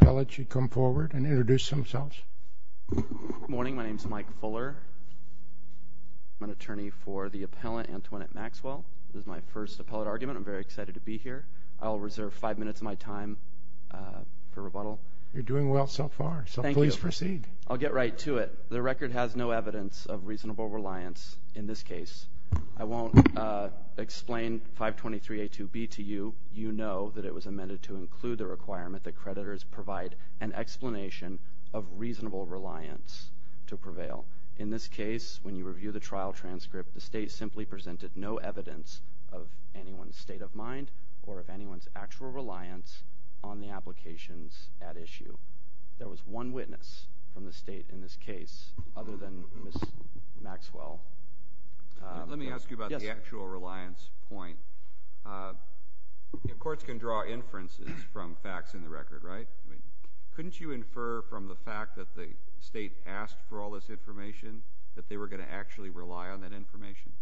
Appellate should come forward and introduce themselves. Good morning. My name is Mike Fuller. I'm an attorney for the appellant, Antoinette Maxwell. This is my first appellate argument. I'm very excited to be here. I'll reserve five minutes of my time for rebuttal. You're doing well so far, so please proceed. Thank you. I'll get right to it. The record has no evidence of reasonable reliance in this case. I won't explain 523A2B to you. You know that it was amended to include the requirement that creditors provide an explanation of reasonable reliance to prevail. In this case, when you review the trial transcript, the State simply presented no evidence of anyone's state of mind or of anyone's actual reliance on the applications at issue. There was one witness from the State in this case other than Ms. Maxwell. Let me ask you about the actual reliance point. Courts can draw inferences from facts in the record, right? Couldn't you infer from the fact that the State asked for all this information that they were going to actually rely on that information?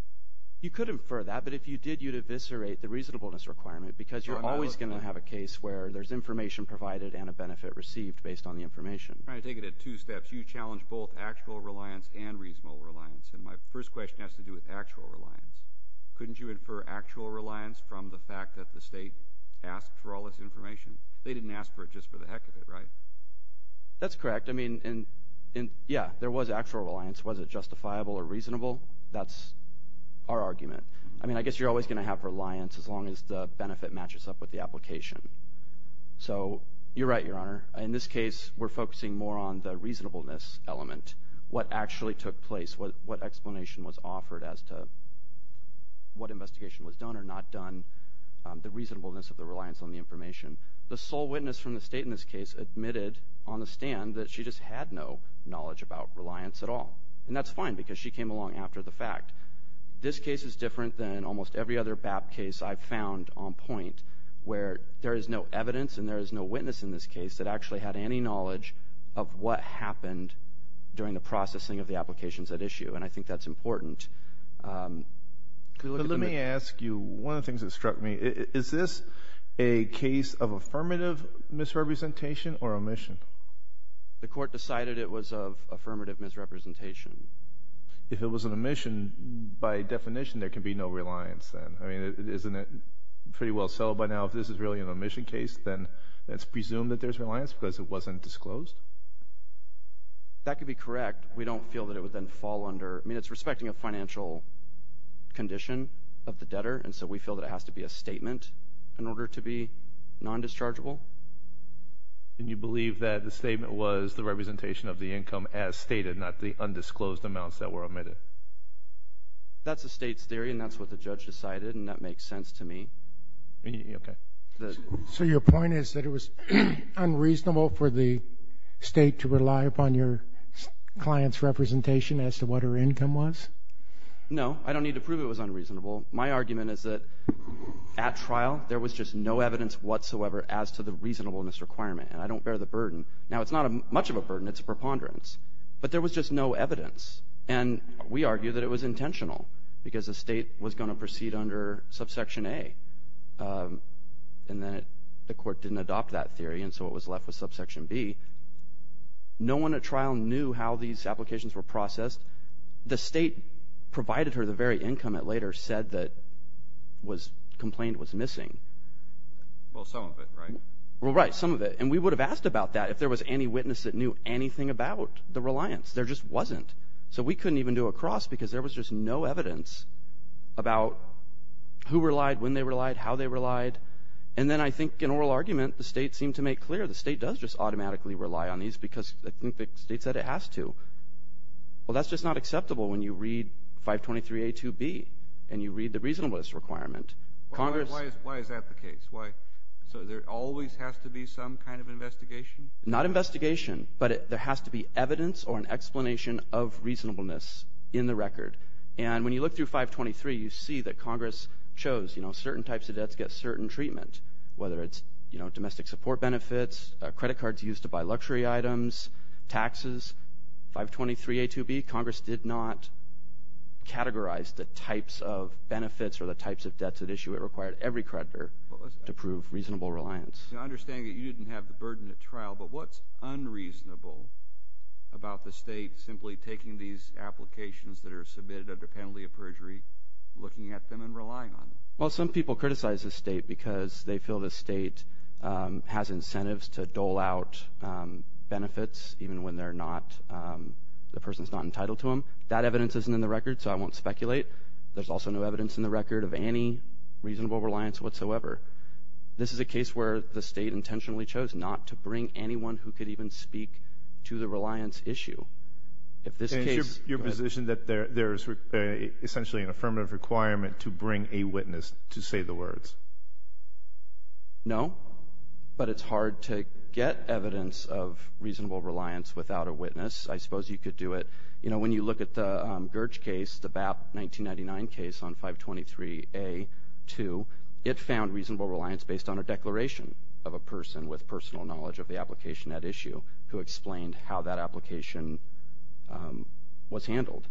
You could infer that, but if you did, you'd eviscerate the reasonableness requirement because you're always going to have a case where there's information provided and a benefit received based on the information. I'm trying to take it at two steps. You challenged both actual reliance and reasonable reliance, and my first question has to do with actual reliance. Couldn't you infer actual reliance from the fact that the State asked for all this information? They didn't ask for it just for the heck of it, right? That's correct. I mean, yeah, there was actual reliance. Was it justifiable or reasonable? That's our argument. I mean, I guess you're always going to have reliance as long as the benefit matches up with the application. So you're right, Your Honor. In this case, we're focusing more on the reasonableness element, what actually took place, what explanation was offered as to what investigation was done or not done, the reasonableness of the reliance on the information. The sole witness from the State in this case admitted on the stand that she just had no knowledge about reliance at all, and that's fine because she came along after the fact. This case is different than almost every other BAP case I've found on point where there is no evidence and there is no witness in this case that actually had any knowledge of what happened during the processing of the applications at issue, and I think that's important. Let me ask you one of the things that struck me. Is this a case of affirmative misrepresentation or omission? The Court decided it was of affirmative misrepresentation. If it was an omission, by definition there can be no reliance then. I mean, isn't it pretty well settled by now if this is really an omission case, then it's presumed that there's reliance because it wasn't disclosed? That could be correct. We don't feel that it would then fall under. I mean, it's respecting a financial condition of the debtor, and so we feel that it has to be a statement in order to be non-dischargeable. And you believe that the statement was the representation of the income as stated, not the undisclosed amounts that were omitted? That's the State's theory, and that's what the judge decided, and that makes sense to me. Okay. So your point is that it was unreasonable for the State to rely upon your client's representation as to what her income was? No. I don't need to prove it was unreasonable. My argument is that at trial there was just no evidence whatsoever as to the reasonableness requirement, and I don't bear the burden. Now, it's not much of a burden. It's a preponderance. But there was just no evidence. And we argue that it was intentional because the State was going to proceed under subsection A, and then the court didn't adopt that theory, and so it was left with subsection B. No one at trial knew how these applications were processed. The State provided her the very income it later said that was complained was missing. Well, some of it, right? Well, right, some of it. And we would have asked about that if there was any witness that knew anything about the reliance. There just wasn't. So we couldn't even do a cross because there was just no evidence about who relied, when they relied, how they relied. And then I think in oral argument the State seemed to make clear the State does just automatically rely on these because I think the State said it has to. Well, that's just not acceptable when you read 523A2B and you read the reasonableness requirement. Why is that the case? So there always has to be some kind of investigation? Not investigation, but there has to be evidence or an explanation of reasonableness in the record. And when you look through 523, you see that Congress chose certain types of debts get certain treatment, whether it's domestic support benefits, credit cards used to buy luxury items, taxes. 523A2B, Congress did not categorize the types of benefits or the types of debts at issue. It required every creditor to prove reasonable reliance. I understand that you didn't have the burden at trial, but what's unreasonable about the State simply taking these applications that are submitted under penalty of perjury, looking at them, and relying on them? Well, some people criticize the State because they feel the State has incentives to dole out benefits even when the person is not entitled to them. That evidence isn't in the record, so I won't speculate. There's also no evidence in the record of any reasonable reliance whatsoever. This is a case where the State intentionally chose not to bring anyone who could even speak to the reliance issue. Is your position that there is essentially an affirmative requirement to bring a witness to say the words? No, but it's hard to get evidence of reasonable reliance without a witness. I suppose you could do it. When you look at the Gerge case, the BAP 1999 case on 523A2, it found reasonable reliance based on a declaration of a person with personal knowledge of the application at issue who explained how that application was handled.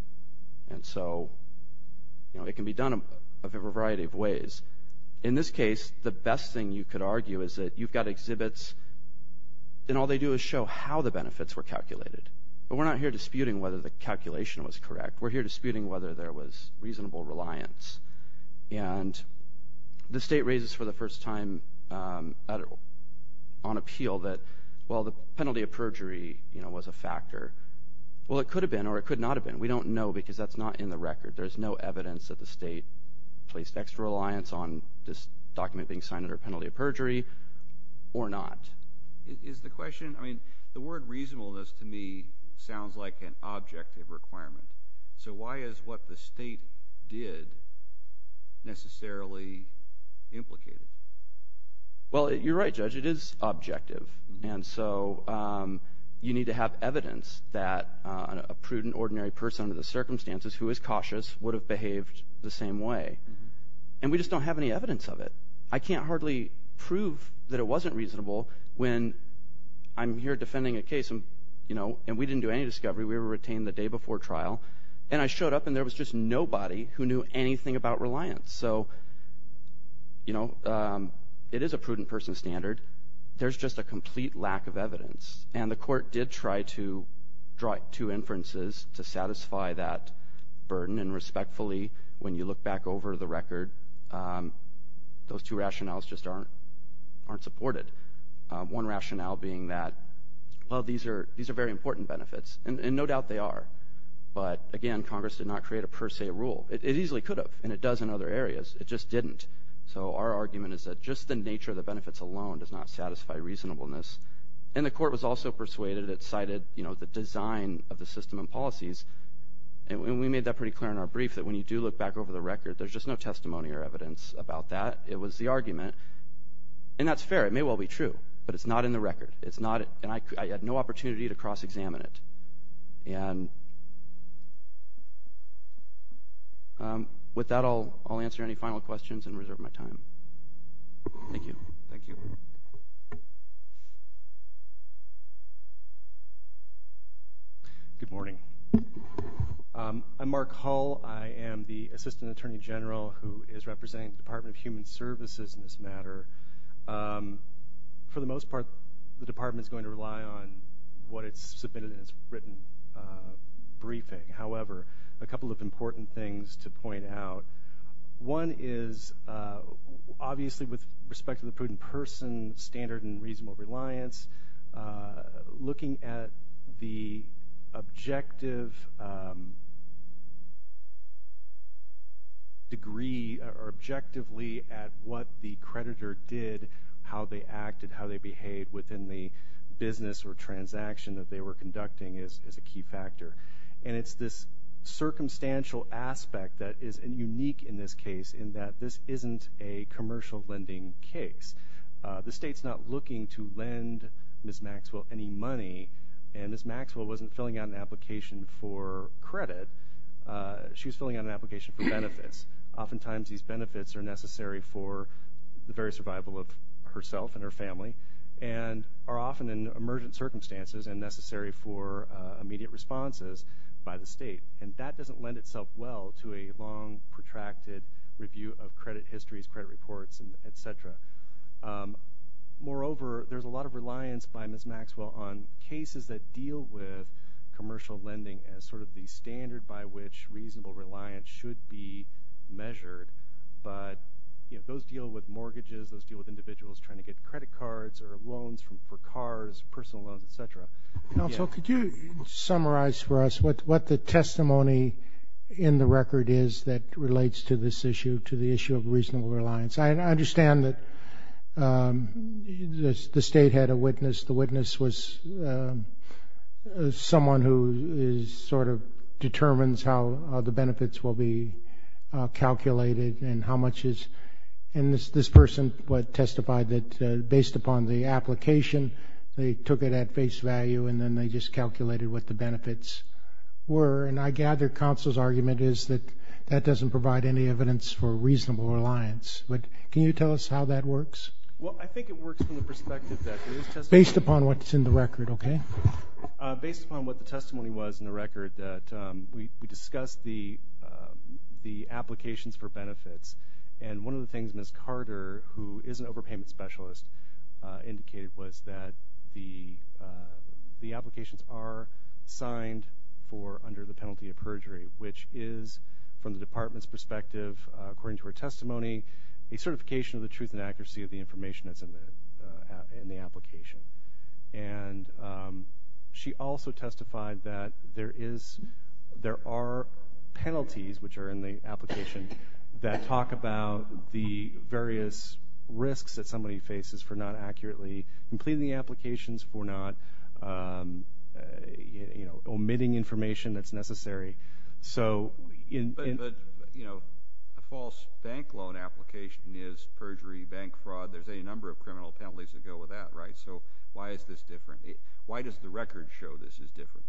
And so it can be done a variety of ways. In this case, the best thing you could argue is that you've got exhibits, and all they do is show how the benefits were calculated. But we're not here disputing whether the calculation was correct. We're here disputing whether there was reasonable reliance. And the State raises for the first time on appeal that, well, the penalty of perjury was a factor. Well, it could have been or it could not have been. We don't know because that's not in the record. There's no evidence that the State placed extra reliance on this document being signed under penalty of perjury or not. Is the question – I mean the word reasonableness to me sounds like an objective requirement. So why is what the State did necessarily implicated? Well, you're right, Judge. It is objective. And so you need to have evidence that a prudent, ordinary person under the circumstances who is cautious would have behaved the same way. And we just don't have any evidence of it. I can't hardly prove that it wasn't reasonable when I'm here defending a case, and we didn't do any discovery. We were retained the day before trial. And I showed up, and there was just nobody who knew anything about reliance. So it is a prudent person standard. There's just a complete lack of evidence. And the court did try to draw two inferences to satisfy that burden. And respectfully, when you look back over the record, those two rationales just aren't supported. One rationale being that, well, these are very important benefits, and no doubt they are. But, again, Congress did not create a per se rule. It easily could have, and it does in other areas. It just didn't. So our argument is that just the nature of the benefits alone does not satisfy reasonableness. And the court was also persuaded. It cited the design of the system and policies. And we made that pretty clear in our brief, that when you do look back over the record, there's just no testimony or evidence about that. It was the argument. And that's fair. It may well be true, but it's not in the record. And I had no opportunity to cross-examine it. And with that, I'll answer any final questions and reserve my time. Thank you. Thank you. Good morning. I'm Mark Hull. I am the Assistant Attorney General who is representing the Department of Human Services in this matter. For the most part, the department is going to rely on what it's submitted in its written briefing. However, a couple of important things to point out. One is, obviously, with respect to the prudent person, standard and reasonable reliance, looking at the objective degree or objectively at what the creditor did, how they acted, how they behaved within the business or transaction that they were conducting is a key factor. And it's this circumstantial aspect that is unique in this case in that this isn't a commercial lending case. The state's not looking to lend Ms. Maxwell any money. And Ms. Maxwell wasn't filling out an application for credit. She was filling out an application for benefits. Oftentimes, these benefits are necessary for the very survival of herself and her family and are often in emergent circumstances and necessary for immediate responses by the state. And that doesn't lend itself well to a long, protracted review of credit histories, credit reports, et cetera. Moreover, there's a lot of reliance by Ms. Maxwell on cases that deal with commercial lending as sort of the standard by which reasonable reliance should be measured. But those deal with mortgages. Those deal with individuals trying to get credit cards or loans for cars, personal loans, et cetera. So could you summarize for us what the testimony in the record is that relates to this issue, to the issue of reasonable reliance? I understand that the state had a witness. The witness was someone who sort of determines how the benefits will be calculated and how much is, and this person testified that based upon the application, they took it at face value and then they just calculated what the benefits were. And I gather counsel's argument is that that doesn't provide any evidence for reasonable reliance. But can you tell us how that works? Well, I think it works from the perspective that it is testimony. Based upon what's in the record, okay. Based upon what the testimony was in the record, that we discussed the applications for benefits. And one of the things Ms. Carter, who is an overpayment specialist, indicated was that the applications are signed for under the penalty of perjury, which is, from the Department's perspective, according to her testimony, a certification of the truth and accuracy of the information that's in the application. And she also testified that there are penalties, which are in the application, that talk about the various risks that somebody faces for not accurately completing the applications, for not omitting information that's necessary. But a false bank loan application is perjury, bank fraud. There's any number of criminal penalties that go with that, right? So why is this different? Why does the record show this is different?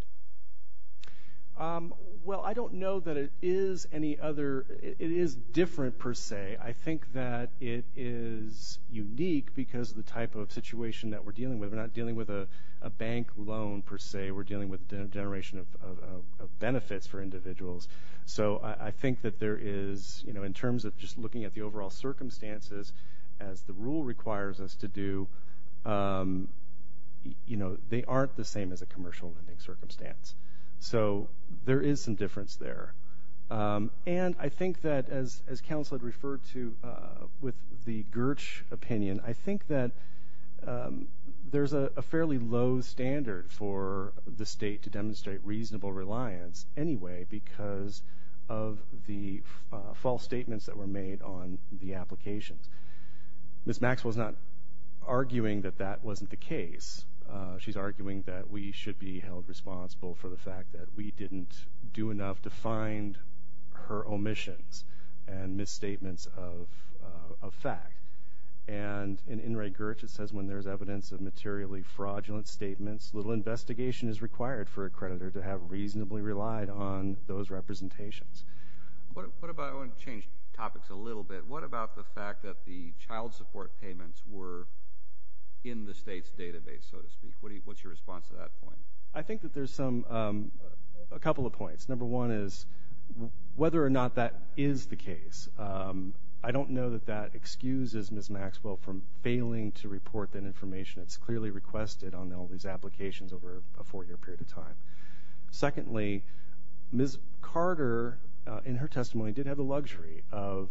Well, I don't know that it is any other. It is different, per se. I think that it is unique because of the type of situation that we're dealing with. We're not dealing with a bank loan, per se. We're dealing with a generation of benefits for individuals. So I think that there is, in terms of just looking at the overall circumstances, as the rule requires us to do, they aren't the same as a commercial lending circumstance. So there is some difference there. And I think that, as counsel had referred to with the Gertz opinion, I think that there's a fairly low standard for the state to demonstrate reasonable reliance anyway because of the false statements that were made on the applications. Ms. Maxwell is not arguing that that wasn't the case. She's arguing that we should be held responsible for the fact that we didn't do enough to find her omissions and misstatements of fact. And in Ray Gertz it says, when there's evidence of materially fraudulent statements, little investigation is required for a creditor to have reasonably relied on those representations. I want to change topics a little bit. What about the fact that the child support payments were in the state's database, so to speak? What's your response to that point? I think that there's a couple of points. Number one is whether or not that is the case. I don't know that that excuses Ms. Maxwell from failing to report that information. It's clearly requested on all these applications over a four-year period of time. Secondly, Ms. Carter, in her testimony, did have the luxury of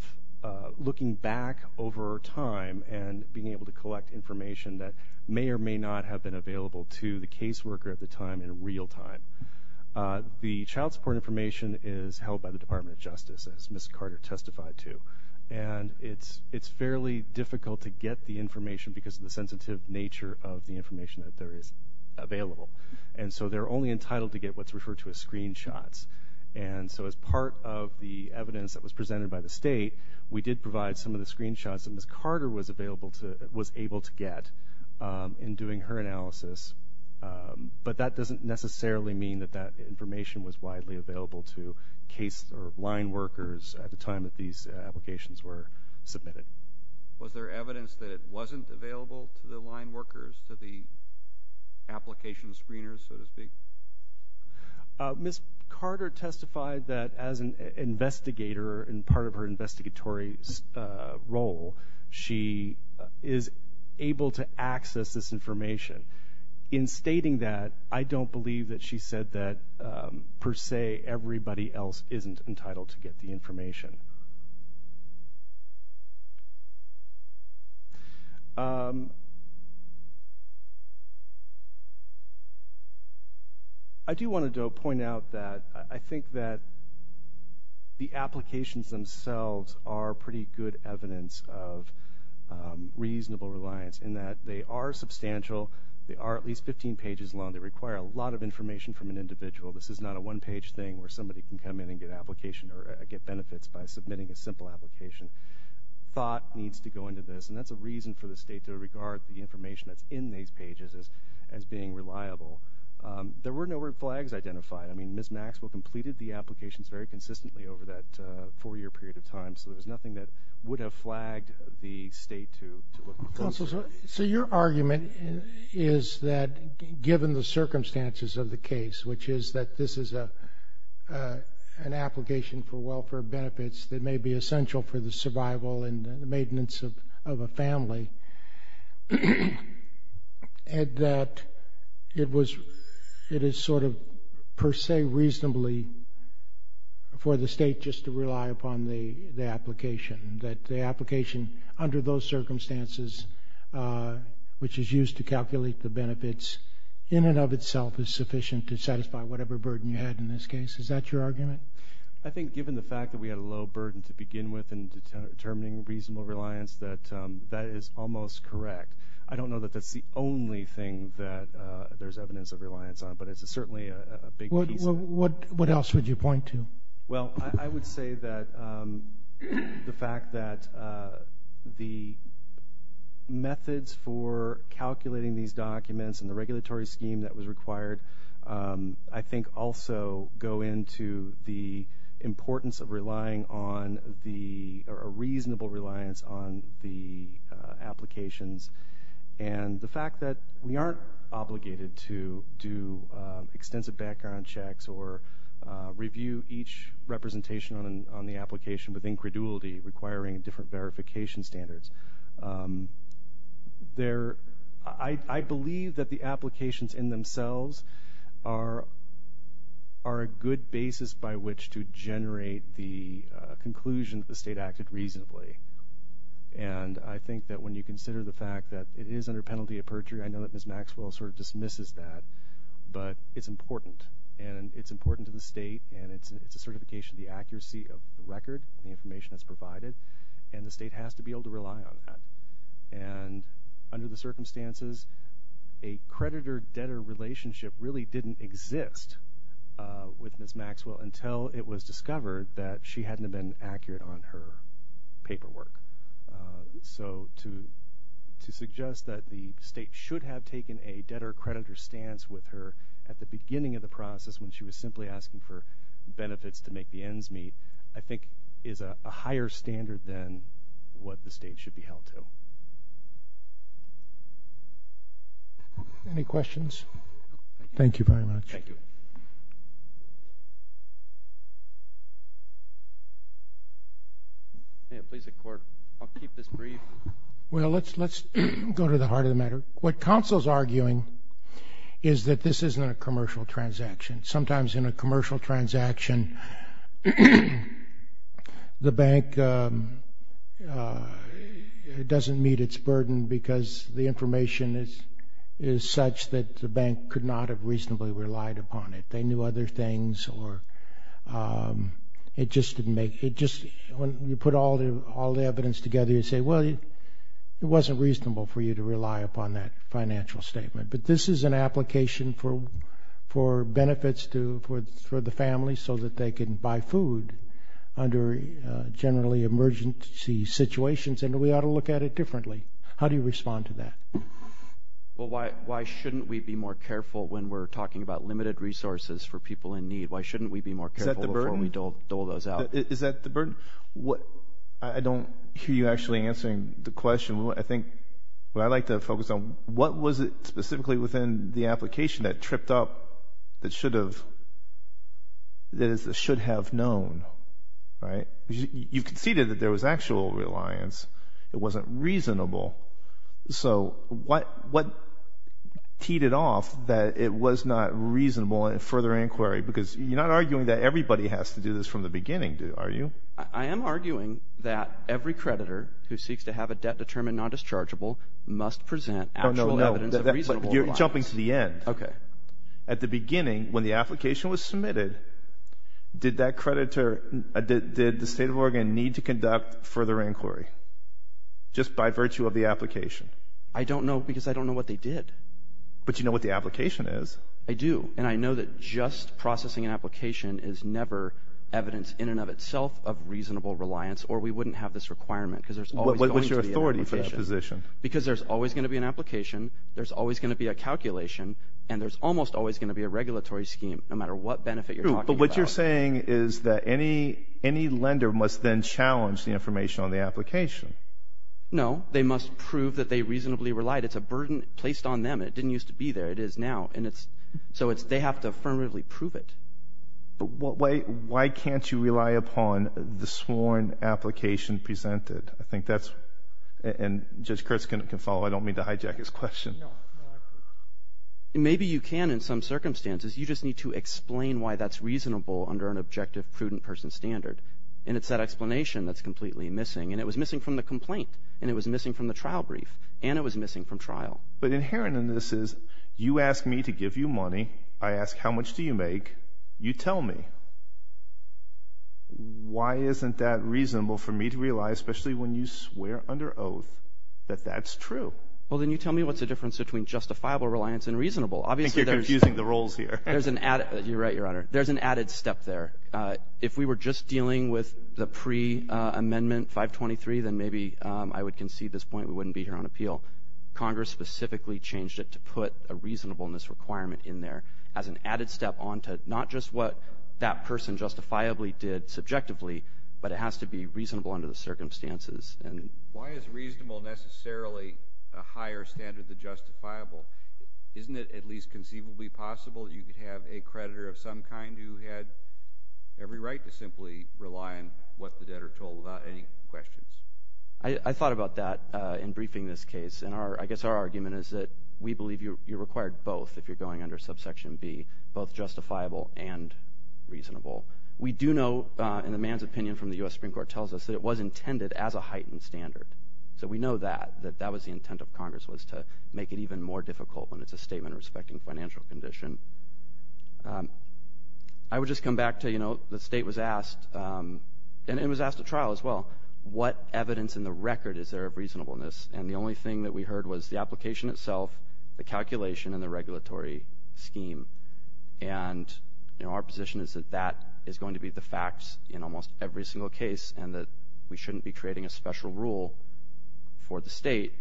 looking back over time and being able to collect information that may or may not have been available to the caseworker at the time in real time. The child support information is held by the Department of Justice, as Ms. Carter testified to. And it's fairly difficult to get the information because of the sensitive nature of the information that there is available. And so they're only entitled to get what's referred to as screenshots. And so as part of the evidence that was presented by the state, we did provide some of the screenshots that Ms. Carter was able to get in doing her analysis. But that doesn't necessarily mean that that information was widely available to case or line workers at the time that these applications were submitted. Was there evidence that it wasn't available to the line workers, to the application screeners, so to speak? Ms. Carter testified that as an investigator, in part of her investigatory role, she is able to access this information. In stating that, I don't believe that she said that, per se, everybody else isn't entitled to get the information. I do want to point out that I think that the applications themselves are pretty good evidence of reasonable reliance, in that they are substantial. They are at least 15 pages long. They require a lot of information from an individual. This is not a one-page thing where somebody can come in and get application or get benefits by submitting a simple application. Thought needs to go into this. And that's a reason for the state to regard the information that's in these pages as being reliable. There were no red flags identified. I mean, Ms. Maxwell completed the applications very consistently over that four-year period of time, so there's nothing that would have flagged the state to look closer. Counsel, so your argument is that given the circumstances of the case, which is that this is an application for welfare benefits that may be essential for the survival and the maintenance of a family, and that it is sort of, per se, reasonably for the state just to rely upon the application, that the application under those circumstances, which is used to calculate the benefits, in and of itself is sufficient to satisfy whatever burden you had in this case? Is that your argument? I think given the fact that we had a low burden to begin with in determining reasonable reliance, that that is almost correct. I don't know that that's the only thing that there's evidence of reliance on, but it's certainly a big piece of it. What else would you point to? Well, I would say that the fact that the methods for calculating these documents and the regulatory scheme that was required I think also go into the importance of relying on the or a reasonable reliance on the applications, and the fact that we aren't obligated to do extensive background checks or review each representation on the application with incredulity, requiring different verification standards. I believe that the applications in themselves are a good basis by which to generate the conclusion that the state acted reasonably. And I think that when you consider the fact that it is under penalty of perjury, I know that Ms. Maxwell sort of dismisses that, but it's important, and it's important to the state, and it's a certification of the accuracy of the record and the information that's provided, and the state has to be able to rely on that. And under the circumstances, a creditor-debtor relationship really didn't exist with Ms. Maxwell until it was discovered that she hadn't been accurate on her paperwork. So to suggest that the state should have taken a debtor-creditor stance with her at the beginning of the process when she was simply asking for benefits to make the ends meet, I think is a higher standard than what the state should be held to. Any questions? Thank you very much. Well, let's go to the heart of the matter. What counsel's arguing is that this isn't a commercial transaction. Sometimes in a commercial transaction, the bank doesn't meet its burden because the information is such that the bank could not have reasonably relied upon it. They knew other things, or it just didn't make it. When you put all the evidence together, you say, well, it wasn't reasonable for you to rely upon that financial statement. But this is an application for benefits for the family so that they can buy food under generally emergency situations, and we ought to look at it differently. How do you respond to that? Well, why shouldn't we be more careful when we're talking about limited resources for people in need? Why shouldn't we be more careful before we dole those out? Is that the burden? I don't hear you actually answering the question. I think what I'd like to focus on, what was it specifically within the application that tripped up that should have known, right? You conceded that there was actual reliance. It wasn't reasonable. So what teed it off that it was not reasonable in further inquiry? Because you're not arguing that everybody has to do this from the beginning, are you? I am arguing that every creditor who seeks to have a debt determined non-dischargeable must present actual evidence of reasonable reliance. But you're jumping to the end. Okay. At the beginning, when the application was submitted, did the state of Oregon need to conduct further inquiry just by virtue of the application? I don't know because I don't know what they did. But you know what the application is. I do, and I know that just processing an application is never evidence in and of itself of reasonable reliance or we wouldn't have this requirement because there's always going to be an application. What's your authority for that position? Because there's always going to be an application, there's always going to be a calculation, and there's almost always going to be a regulatory scheme no matter what benefit you're talking about. But what you're saying is that any lender must then challenge the information on the application. No. They must prove that they reasonably relied. It's a burden placed on them. It didn't used to be there. It is now. So they have to affirmatively prove it. But why can't you rely upon the sworn application presented? I think that's, and Judge Kurtz can follow. I don't mean to hijack his question. Maybe you can in some circumstances. You just need to explain why that's reasonable under an objective prudent person standard, and it's that explanation that's completely missing, and it was missing from the complaint, and it was missing from the trial brief, and it was missing from trial. But inherent in this is you ask me to give you money. I ask how much do you make. You tell me. Why isn't that reasonable for me to realize, especially when you swear under oath that that's true? Well, then you tell me what's the difference between justifiable reliance and reasonable. I think you're confusing the roles here. You're right, Your Honor. There's an added step there. If we were just dealing with the pre-amendment 523, then maybe I would concede this point. We wouldn't be here on appeal. Congress specifically changed it to put a reasonableness requirement in there as an added step onto not just what that person justifiably did subjectively, but it has to be reasonable under the circumstances. Why is reasonable necessarily a higher standard than justifiable? Isn't it at least conceivably possible that you could have a creditor of some kind who had every right to simply rely on what the debtor told without any questions? I thought about that in briefing this case, and I guess our argument is that we believe you're required both if you're going under subsection B, both justifiable and reasonable. We do know, and the man's opinion from the U.S. Supreme Court tells us, that it was intended as a heightened standard. So we know that, that that was the intent of Congress, was to make it even more difficult when it's a statement respecting financial condition. I would just come back to, you know, the State was asked, and it was asked at trial as well, what evidence in the record is there of reasonableness, and the only thing that we heard was the application itself, the calculation, and the regulatory scheme. And, you know, our position is that that is going to be the facts in almost every single case and that we shouldn't be creating a special rule for the State.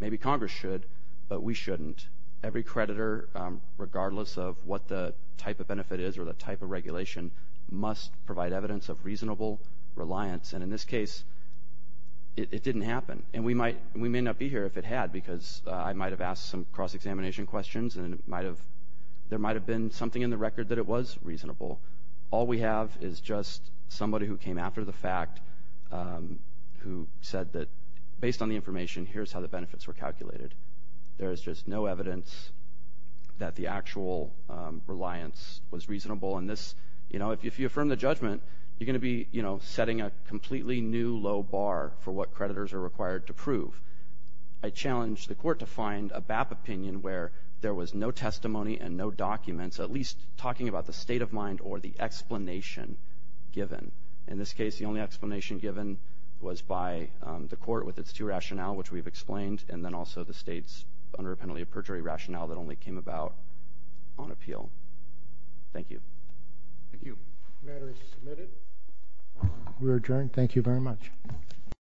Maybe Congress should, but we shouldn't. Every creditor, regardless of what the type of benefit is or the type of regulation, must provide evidence of reasonable reliance, and in this case it didn't happen. And we may not be here if it had, because I might have asked some cross-examination questions and it might have, there might have been something in the record that it was reasonable. All we have is just somebody who came after the fact who said that, based on the information, here's how the benefits were calculated. There is just no evidence that the actual reliance was reasonable, and this, you know, if you affirm the judgment, you're going to be, you know, setting a completely new low bar for what creditors are required to prove. I challenge the Court to find a BAP opinion where there was no testimony and no documents, at least talking about the state of mind or the explanation given. In this case, the only explanation given was by the Court with its two rationale, which we've explained, and then also the State's under penalty of perjury rationale that only came about on appeal. Thank you. Thank you. The matter is submitted. We are adjourned. Thank you very much.